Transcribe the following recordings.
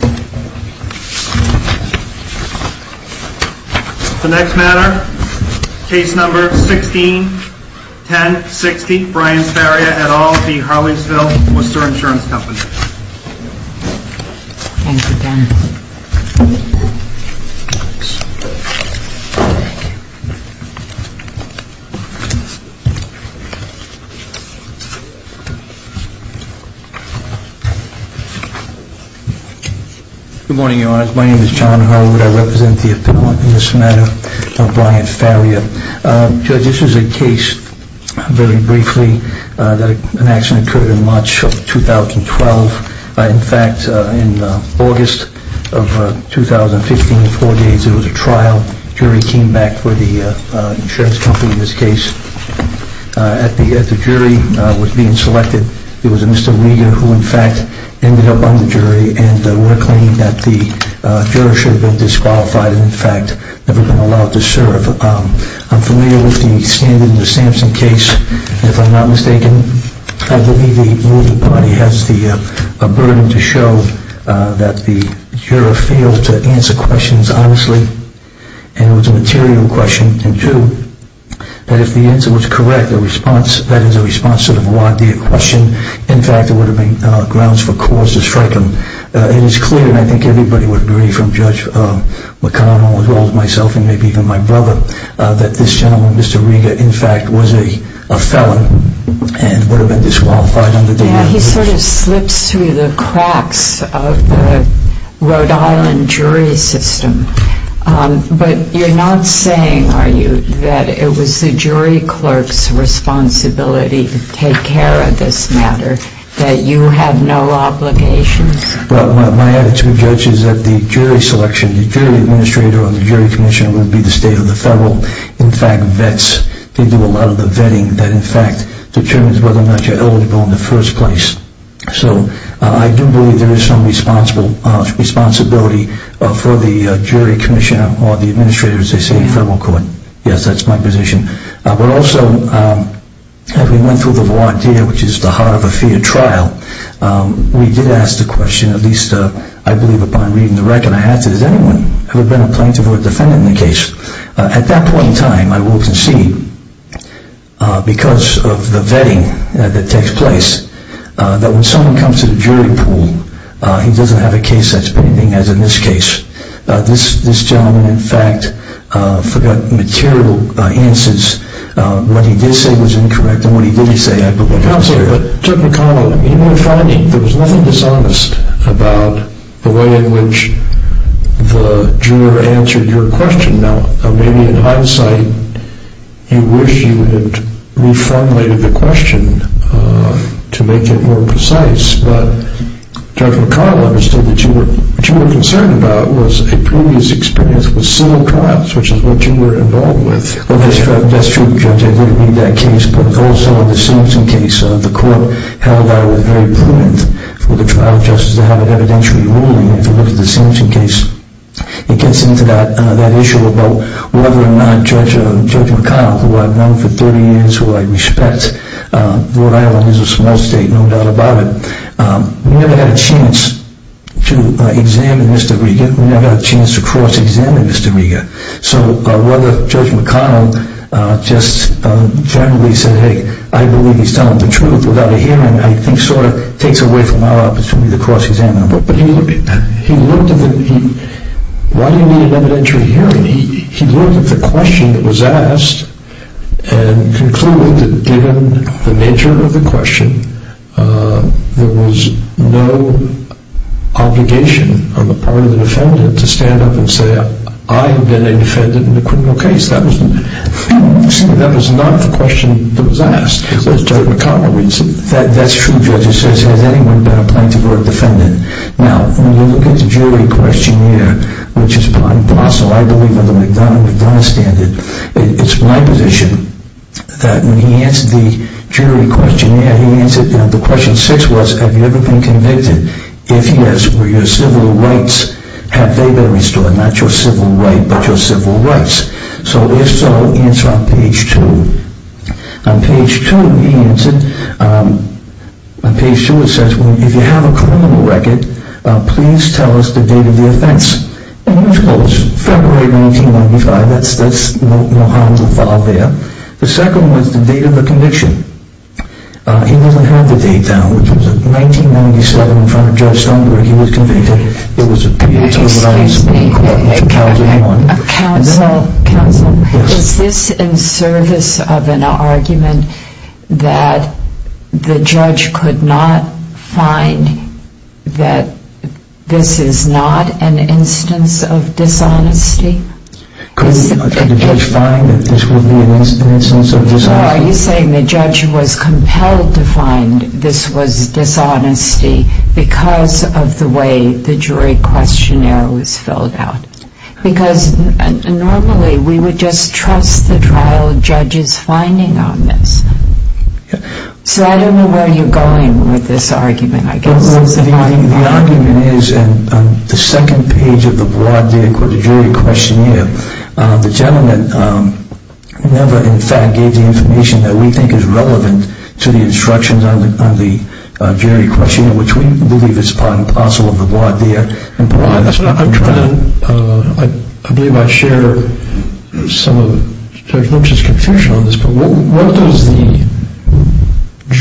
The next matter, case number 161060, Brian Sparia et al. v. Harleysville Worcester Insurance Company. Good morning, Your Honor. My name is John Harwood. I represent the opinion in this matter of Brian Sparia. Judge, this is a case, very briefly, that an accident occurred in March of 2012. In fact, in August of 2015, four days, there was a trial. A jury came back for the insurance company in this case. At the jury was being selected, there was a Mr. Rieger who in fact ended up on the jury and were claimed that the juror should have been disqualified and in fact never been allowed to serve. I'm familiar with the standard in the Sampson case, if I'm not mistaken. I believe the ruling party has the burden to show that the juror failed to answer questions honestly and it was a material question. It is clear, and I think everybody would agree from Judge McConnell, as well as myself and maybe even my brother, that this gentleman, Mr. Rieger, in fact was a felon and would have been disqualified. He sort of slips through the cracks of the Rhode Island jury system, but you're not saying, are you, that it was the jury clerk's responsibility to take care of this matter, that you have no obligations? Well, my attitude, Judge, is that the jury selection, the jury administrator or the jury commissioner would be the state or the federal, in fact, vets. They do a lot of the vetting that in fact determines whether or not you're eligible in the first place. So, I do believe there is some responsibility for the jury commissioner or the administrator as they say in federal court. Yes, that's my position. But also, as we went through the voir dire, which is the heart of a fair trial, we did ask the question, at least I believe upon reading the record, I asked, has anyone ever been a plaintiff or a defendant in the case? At that point in time, I will concede, because of the vetting that takes place, that when someone comes to the jury pool, he doesn't have a case that's pending as in this case. This gentleman, in fact, forgot material answers, what he did say was incorrect and what he didn't say, I believe. But Judge McConnell, in your finding, there was nothing dishonest about the way in which the juror answered your question. Now, maybe in hindsight, you wish you had reformulated the question to make it more precise, but Judge McConnell understood that what you were concerned about was a previous experience with civil trials, which is what you were involved with. Well, that's true, Judge, I did read that case, but also the Simpson case, the court held that it was very prudent for the trial justice to have an evidentiary ruling. If you look at the Simpson case, it gets into that issue about whether or not Judge McConnell, who I've known for 30 years, who I respect, Rhode Island is a small state, no doubt about it, we never had a chance to examine Mr. Rega. So whether Judge McConnell just generally said, hey, I believe he's telling the truth without a hearing, I think sort of takes away from our opportunity to cross-examine him. Why do you need an evidentiary hearing? He looked at the question that was asked and concluded that given the nature of the question, there was no obligation on the part of the defendant to stand up and say, I have been a defendant in a criminal case. That was not the question that was asked. That's true, Judge, it says, has anyone been a plaintiff or a defendant? Now, when you look at the jury questionnaire, which is by parcel, I believe under the McDonough-McDonough standard, it's my position that when he answered the jury questionnaire, the question six was, have you ever been convicted? If yes, were your civil rights, have they been restored? Not your civil right, but your civil rights. So if so, answer on page two. On page two, he answered, on page two it says, if you have a criminal record, please tell us the date of the offense. And he was close. February of 1995, that's no harmful file there. The second was the date of the conviction. He doesn't have the date down, which was 1997 in front of Judge Stoneberg, he was convicted. Excuse me, counsel, is this in service of an argument that the judge could not find that this is not an instance of dishonesty? Could the judge find that this would be an instance of dishonesty? Are you saying the judge was compelled to find this was dishonesty because of the way the jury questionnaire was filled out? Because normally we would just trust the trial judge's finding on this. So I don't know where you're going with this argument. The argument is on the second page of the jury questionnaire, the gentleman never in fact gave the information that we think is relevant to the instructions on the jury questionnaire, which we believe is part and parcel of the jury questionnaire. I believe I share some of Judge Lynch's confusion on this.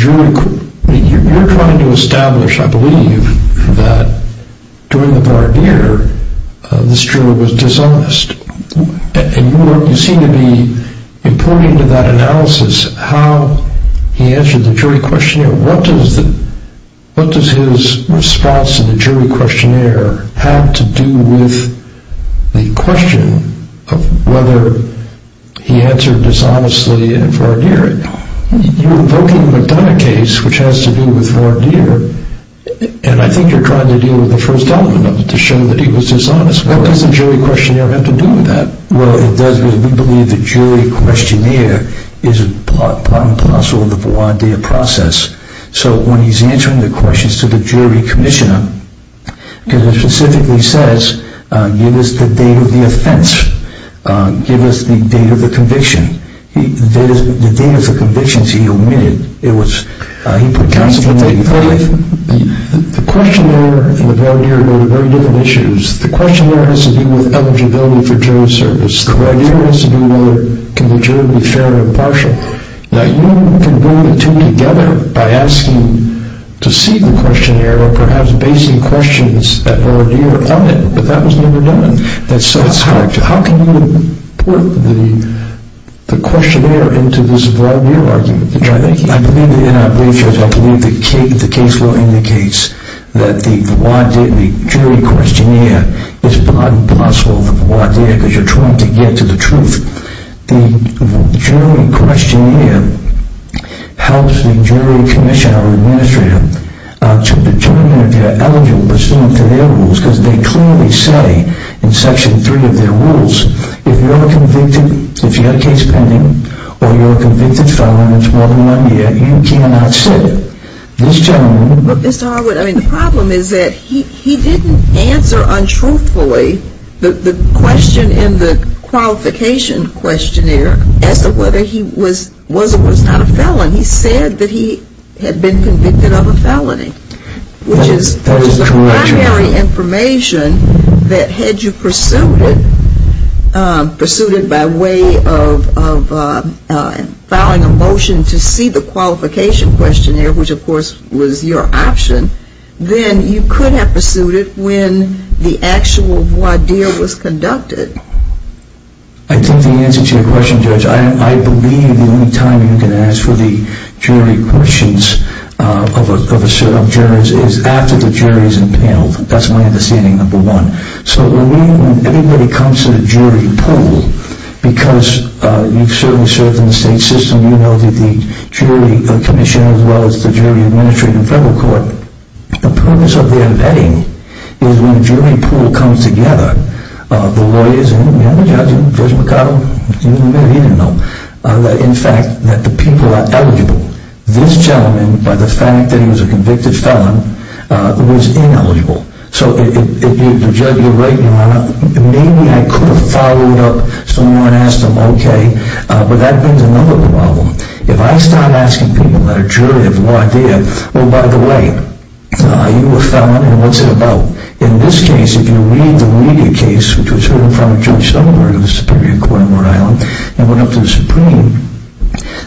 You're trying to establish, I believe, that during the barbeer, this juror was dishonest. You seem to be importing into that analysis how he answered the jury questionnaire. What does his response to the jury questionnaire have to do with the question of whether he answered dishonestly in a voir dire? You're invoking the McDonough case, which has to do with voir dire, and I think you're trying to deal with the first element of it to show that he was dishonest. What does the jury questionnaire have to do with that? Well, it does because we believe the jury questionnaire is part and parcel of the voir dire process. So when he's answering the questions to the jury commissioner, because it specifically says, give us the date of the offense. Give us the date of the conviction. The date of the convictions he omitted. The questionnaire and the voir dire are very different issues. The questionnaire has to do with eligibility for jury service. The voir dire has to do with whether the jury can be fair or impartial. Now, you can bring the two together by asking to see the questionnaire or perhaps basing questions at voir dire on it, but that was never done. That's correct. How can you import the questionnaire into this voir dire argument? I believe that in our briefcase, I believe the case law indicates that the voir dire, the jury questionnaire, is part and parcel of the voir dire because you're trying to get to the truth. The jury questionnaire helps the jury commissioner or administrator to determine if you're eligible pursuant to their rules because they clearly say in section 3 of their rules, if you're a convicted, if you have a case pending, or you're a convicted felon for more than one year, you cannot sit. This gentleman... But Mr. Harwood, I mean, the problem is that he didn't answer untruthfully the question in the qualification questionnaire as to whether he was or was not a felon. He said that he had been convicted of a felony. That is correct. If you had the jury information that had you pursued it, pursued it by way of filing a motion to see the qualification questionnaire, which of course was your option, then you could have pursued it when the actual voir dire was conducted. I think the answer to your question, Judge, I believe the only time you can ask for the jury questions of jurors is after the jury is impaneled. That's my understanding, number one. So when anybody comes to the jury pool, because you've certainly served in the state system, you know that the jury commissioner as well as the jury administrator in federal court, the purpose of their vetting is when the jury pool comes together, the lawyers and the other judges, Judge McConnell, he didn't know, in fact, that the people are eligible. This gentleman, by the fact that he was a convicted felon, was ineligible. So the judge, you're right, Your Honor, maybe I could have followed up some more and asked him, okay, but that brings another problem. If I start asking people at a jury of voir dire, oh, by the way, are you a felon and what's it about? In this case, if you read the Levy case, which was heard in front of Judge Stoltenberg of the Superior Court in Rhode Island and went up to the Supreme,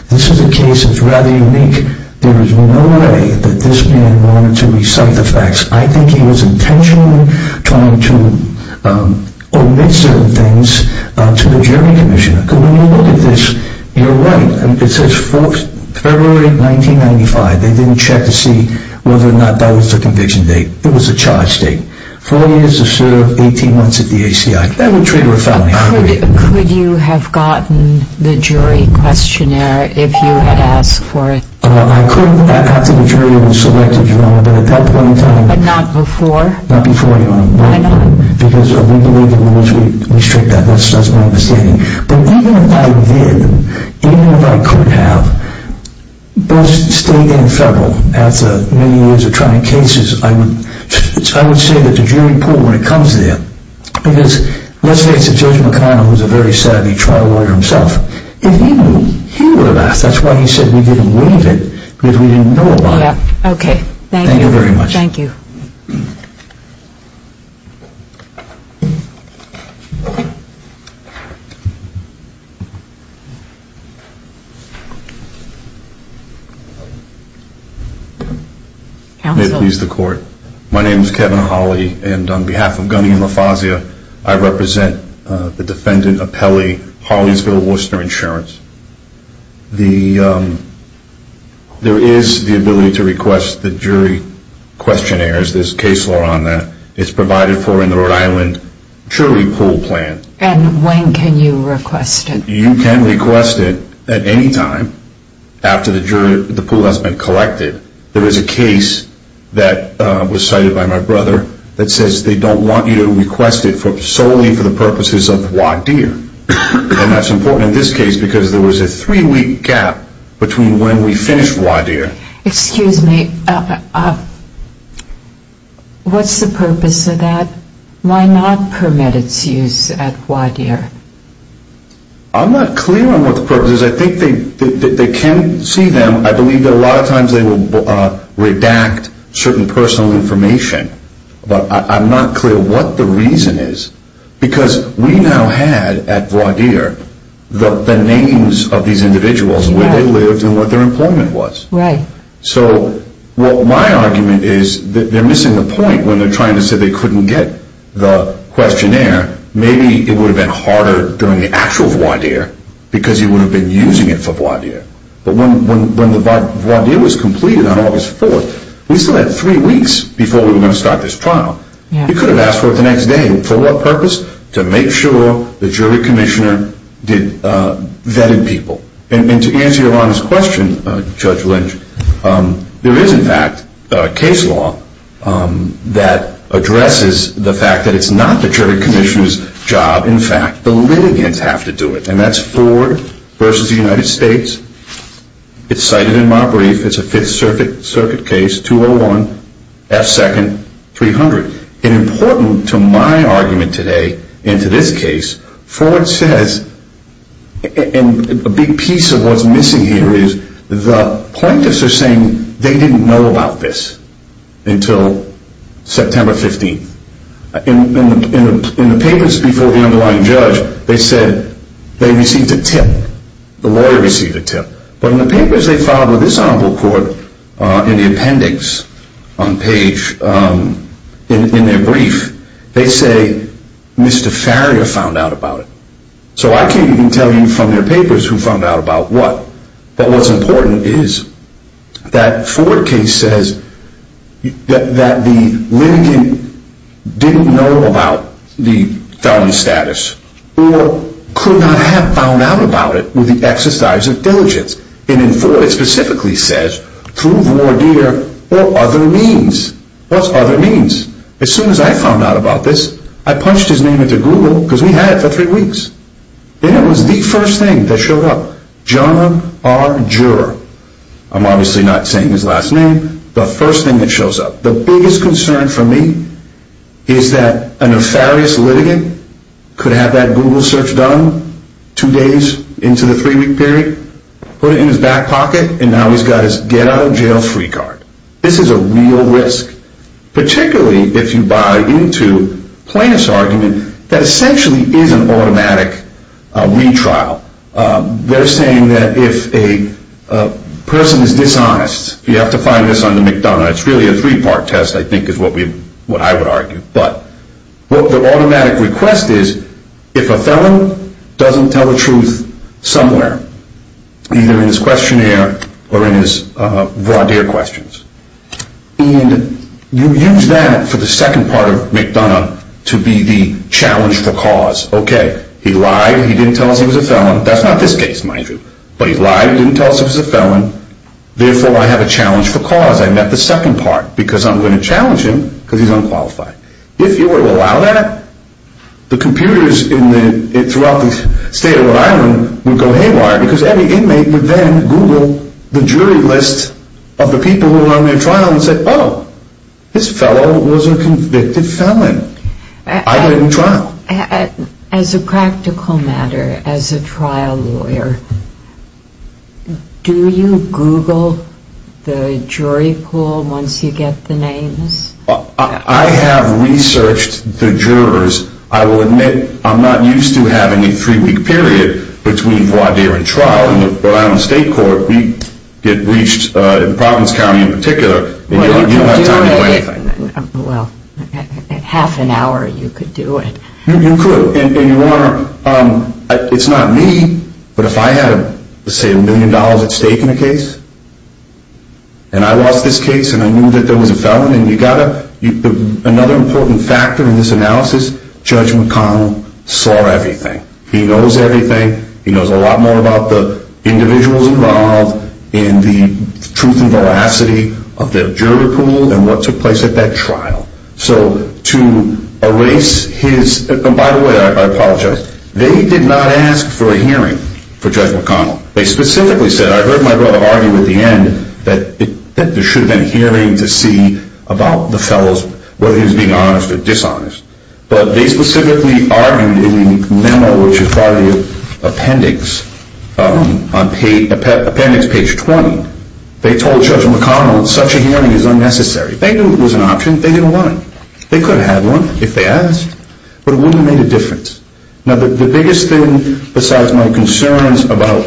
this is a case that's rather unique. There is no way that this man wanted to recite the facts. I think he was intentionally trying to omit certain things to the jury commissioner. When you look at this, you're right. It says February 1995. They didn't check to see whether or not that was the conviction date. It was a charge date. Four years to serve, 18 months at the ACI. That would trigger a felony. Could you have gotten the jury questionnaire if you had asked for it? I couldn't. I got to the jury and selected, Your Honor, but at that point in time. But not before? Not before, Your Honor. Why not? Because we believe in rules. We restrict that. That's my understanding. But even if I did, even if I could have, both state and federal, after many years of trying cases, I would say that the jury pulled when it comes to that. Because let's face it, Judge McConnell was a very savvy trial lawyer himself. If he knew, he would have asked. That's why he said we didn't waive it, because we didn't know about it. Okay. Thank you. Thank you very much. Thank you. Thank you. May it please the court. My name is Kevin Hawley, and on behalf of Gunny and LaFazia, I represent the defendant, Apelli, Hollingsville, Worcester Insurance. There is the ability to request the jury questionnaires. There's case law on that. It's provided for in the Rhode Island jury pool plan. And when can you request it? You can request it at any time after the jury pool has been collected. There was a case that was cited by my brother that says they don't want you to request it solely for the purposes of WADIR. And that's important in this case because there was a three-week gap between when we finished WADIR. Excuse me. What's the purpose of that? Why not permit its use at WADIR? I'm not clear on what the purpose is. I think they can see them. I believe that a lot of times they will redact certain personal information. But I'm not clear what the reason is, because we now had at WADIR the names of these individuals, where they lived, and what their employment was. Right. So my argument is that they're missing the point when they're trying to say they couldn't get the questionnaire. Maybe it would have been harder during the actual WADIR because you would have been using it for WADIR. But when the WADIR was completed on August 4th, we still had three weeks before we were going to start this trial. You could have asked for it the next day. For what purpose? To make sure the jury commissioner vetted people. And to answer Yolanda's question, Judge Lynch, there is, in fact, a case law that addresses the fact that it's not the jury commissioner's job. In fact, the litigants have to do it. And that's Ford v. The United States. It's cited in my brief. It's a Fifth Circuit case, 201, F second, 300. And important to my argument today and to this case, Ford says, and a big piece of what's missing here is, the plaintiffs are saying they didn't know about this until September 15th. In the papers before the underlying judge, they said they received a tip. The lawyer received a tip. But in the papers they filed with this Honorable Court, in the appendix on page, in their brief, they say Mr. Farrier found out about it. So I can't even tell you from their papers who found out about what. But what's important is that Ford case says that the litigant didn't know about the felony status or could not have found out about it with the exercise of diligence. And in Ford, it specifically says, prove war dealer or other means. What's other means? As soon as I found out about this, I punched his name into Google because we had it for three weeks. And it was the first thing that showed up. John R. Juror. I'm obviously not saying his last name. The first thing that shows up. The biggest concern for me is that a nefarious litigant could have that Google search done two days into the three-week period, put it in his back pocket, and now he's got his get-out-of-jail-free card. This is a real risk. Particularly if you buy into Plaintiff's argument that essentially is an automatic retrial. They're saying that if a person is dishonest, you have to find this on the McDonough. It's really a three-part test, I think, is what I would argue. But what the automatic request is, if a felon doesn't tell the truth somewhere, either in his questionnaire or in his voir dire questions, and you use that for the second part of McDonough to be the challenge for cause. Okay, he lied, he didn't tell us he was a felon. That's not this case, mind you. But he lied, didn't tell us he was a felon. Therefore, I have a challenge for cause. I met the second part because I'm going to challenge him because he's unqualified. If you were to allow that, the computers throughout the state of Rhode Island would go haywire because every inmate would then Google the jury list of the people who were on their trial and say, oh, this fellow was a convicted felon. I didn't trial. As a practical matter, as a trial lawyer, do you Google the jury pool once you get the names? I have researched the jurors. I will admit I'm not used to having a three-week period between voir dire and trial. In the Rhode Island State Court, we get breached in Providence County in particular. You don't have time to do anything. Well, half an hour you could do it. You could, and you aren't. It's not me, but if I had, say, a million dollars at stake in a case, and I lost this case and I knew that there was a felon, another important factor in this analysis, Judge McConnell saw everything. He knows everything. He knows a lot more about the individuals involved and the truth and veracity of the juror pool and what took place at that trial. So to erase his... By the way, I apologize. They did not ask for a hearing for Judge McConnell. They specifically said... I heard my brother argue at the end that there should have been a hearing to see about the felons, whether he was being honest or dishonest. But they specifically argued in the memo, which is part of the appendix, on appendix page 20, they told Judge McConnell such a hearing is unnecessary. They knew it was an option. They didn't want it. They could have had one if they asked, but it wouldn't have made a difference. Now, the biggest thing besides my concerns about...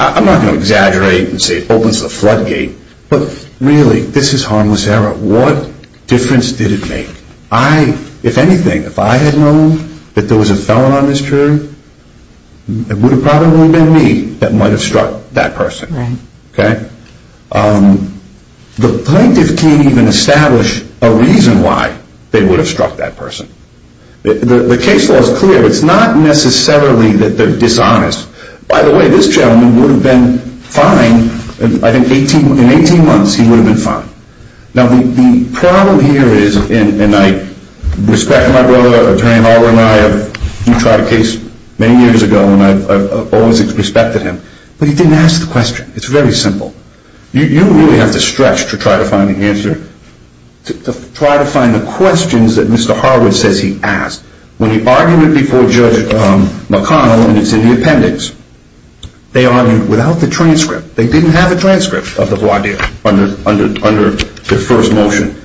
I'm not going to exaggerate and say it opens the floodgate, but really, this is harmless error. What difference did it make? If anything, if I had known that there was a felon on this jury, it would have probably been me that might have struck that person. The plaintiff can't even establish a reason why they would have struck that person. The case law is clear. It's not necessarily that they're dishonest. By the way, this gentleman would have been fined. I think in 18 months, he would have been fined. Now, the problem here is, and I respect my brother, Attorney Harwood, and I have tried a case many years ago, and I've always respected him, but he didn't ask the question. It's very simple. You really have to stretch to try to find the answer, to try to find the questions that Mr. Harwood says he asked. When he argued it before Judge McConnell, and it's in the appendix, they argued without the transcript. They didn't have a transcript of the law deal under the first motion.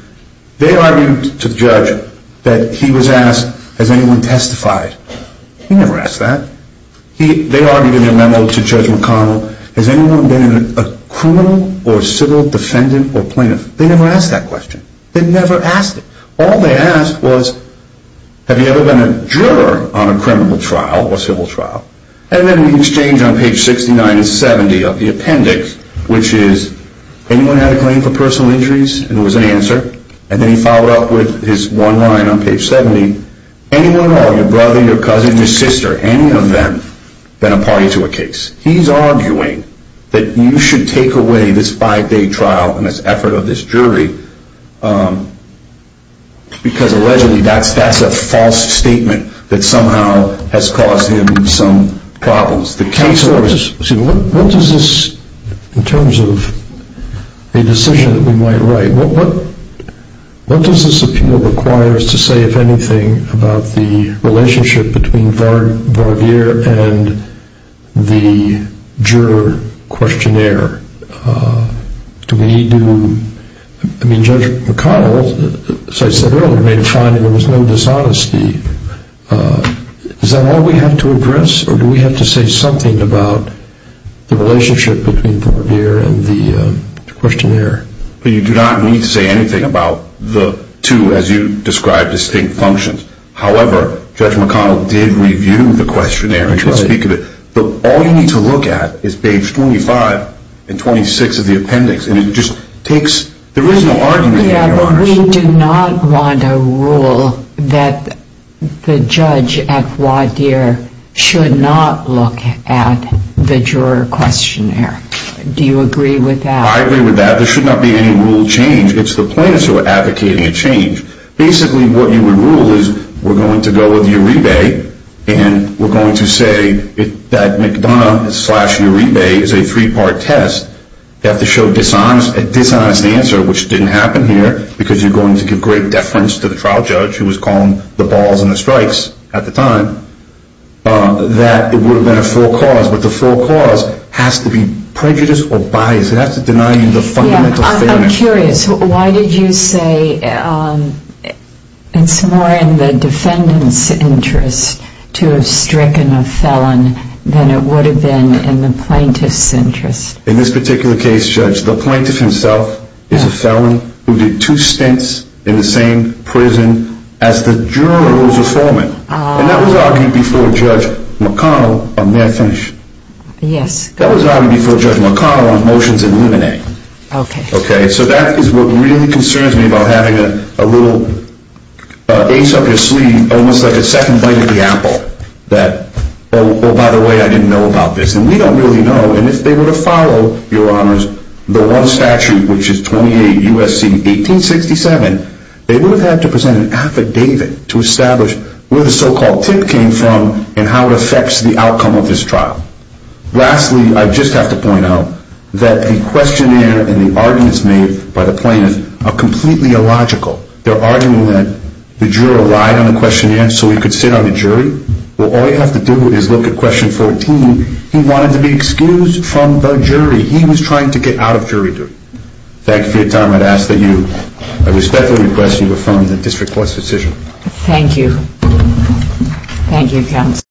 They argued to the judge that he was asked, has anyone testified? He never asked that. They argued in their memo to Judge McConnell, has anyone been a criminal or civil defendant or plaintiff? They never asked that question. They never asked it. All they asked was, have you ever been a juror on a criminal trial or civil trial? And then he exchanged on page 69 and 70 of the appendix, which is, anyone had a claim for personal injuries? And there was an answer. And then he followed up with his one line on page 70, anyone or your brother, your cousin, your sister, any of them, been a party to a case? He's arguing that you should take away this five-day trial and this effort of this jury because, allegedly, that's a false statement that somehow has caused him some problems. The case was ‑‑ So what does this, in terms of a decision that we might write, what does this appeal require us to say, if anything, about the relationship between Varvier and the juror questionnaire? Do we need to ‑‑ I mean, Judge McConnell, as I said earlier, made a finding there was no dishonesty. Is that all we have to address, or do we have to say something about the relationship between Varvier and the questionnaire? You do not need to say anything about the two, as you described, distinct functions. However, Judge McConnell did review the questionnaire and did speak of it. But all you need to look at is page 25 and 26 of the appendix, and it just takes ‑‑ there is no argument here. Yeah, but we do not want a rule that the judge at Varvier should not look at the juror questionnaire. Do you agree with that? I agree with that. There should not be any rule change. It's the plaintiffs who are advocating a change. Basically, what you would rule is we're going to go with Uribe and we're going to say that McDonough slash Uribe is a three‑part test. You have to show a dishonest answer, which didn't happen here, because you're going to give great deference to the trial judge who was calling the balls and the strikes at the time, that it would have been a full cause. But the full cause has to be prejudiced or biased. It has to deny you the fundamental fairness. I'm curious. Why did you say it's more in the defendant's interest to have stricken a felon than it would have been in the plaintiff's interest? In this particular case, Judge, the plaintiff himself is a felon who did two stints in the same prison as the juror who was a foreman. And that was argued before Judge McConnell on ‑‑ may I finish? Yes. That was argued before Judge McConnell on motions in limine. Okay. So that is what really concerns me about having a little ace up your sleeve, almost like a second bite at the apple, that, oh, by the way, I didn't know about this. And we don't really know. And if they were to follow, Your Honors, the one statute, which is 28 U.S.C. 1867, they would have to present an affidavit to establish where the so‑called tip came from and how it affects the outcome of this trial. Lastly, I just have to point out that the questionnaire and the arguments made by the plaintiff are completely illogical. They're arguing that the juror lied on the questionnaire so he could sit on the jury. Well, all you have to do is look at question 14. He wanted to be excused from the jury. He was trying to get out of jury duty. Thank you for your time. I'd ask that you, I respectfully request you to affirm the district court's decision. Thank you. Thank you, counsel.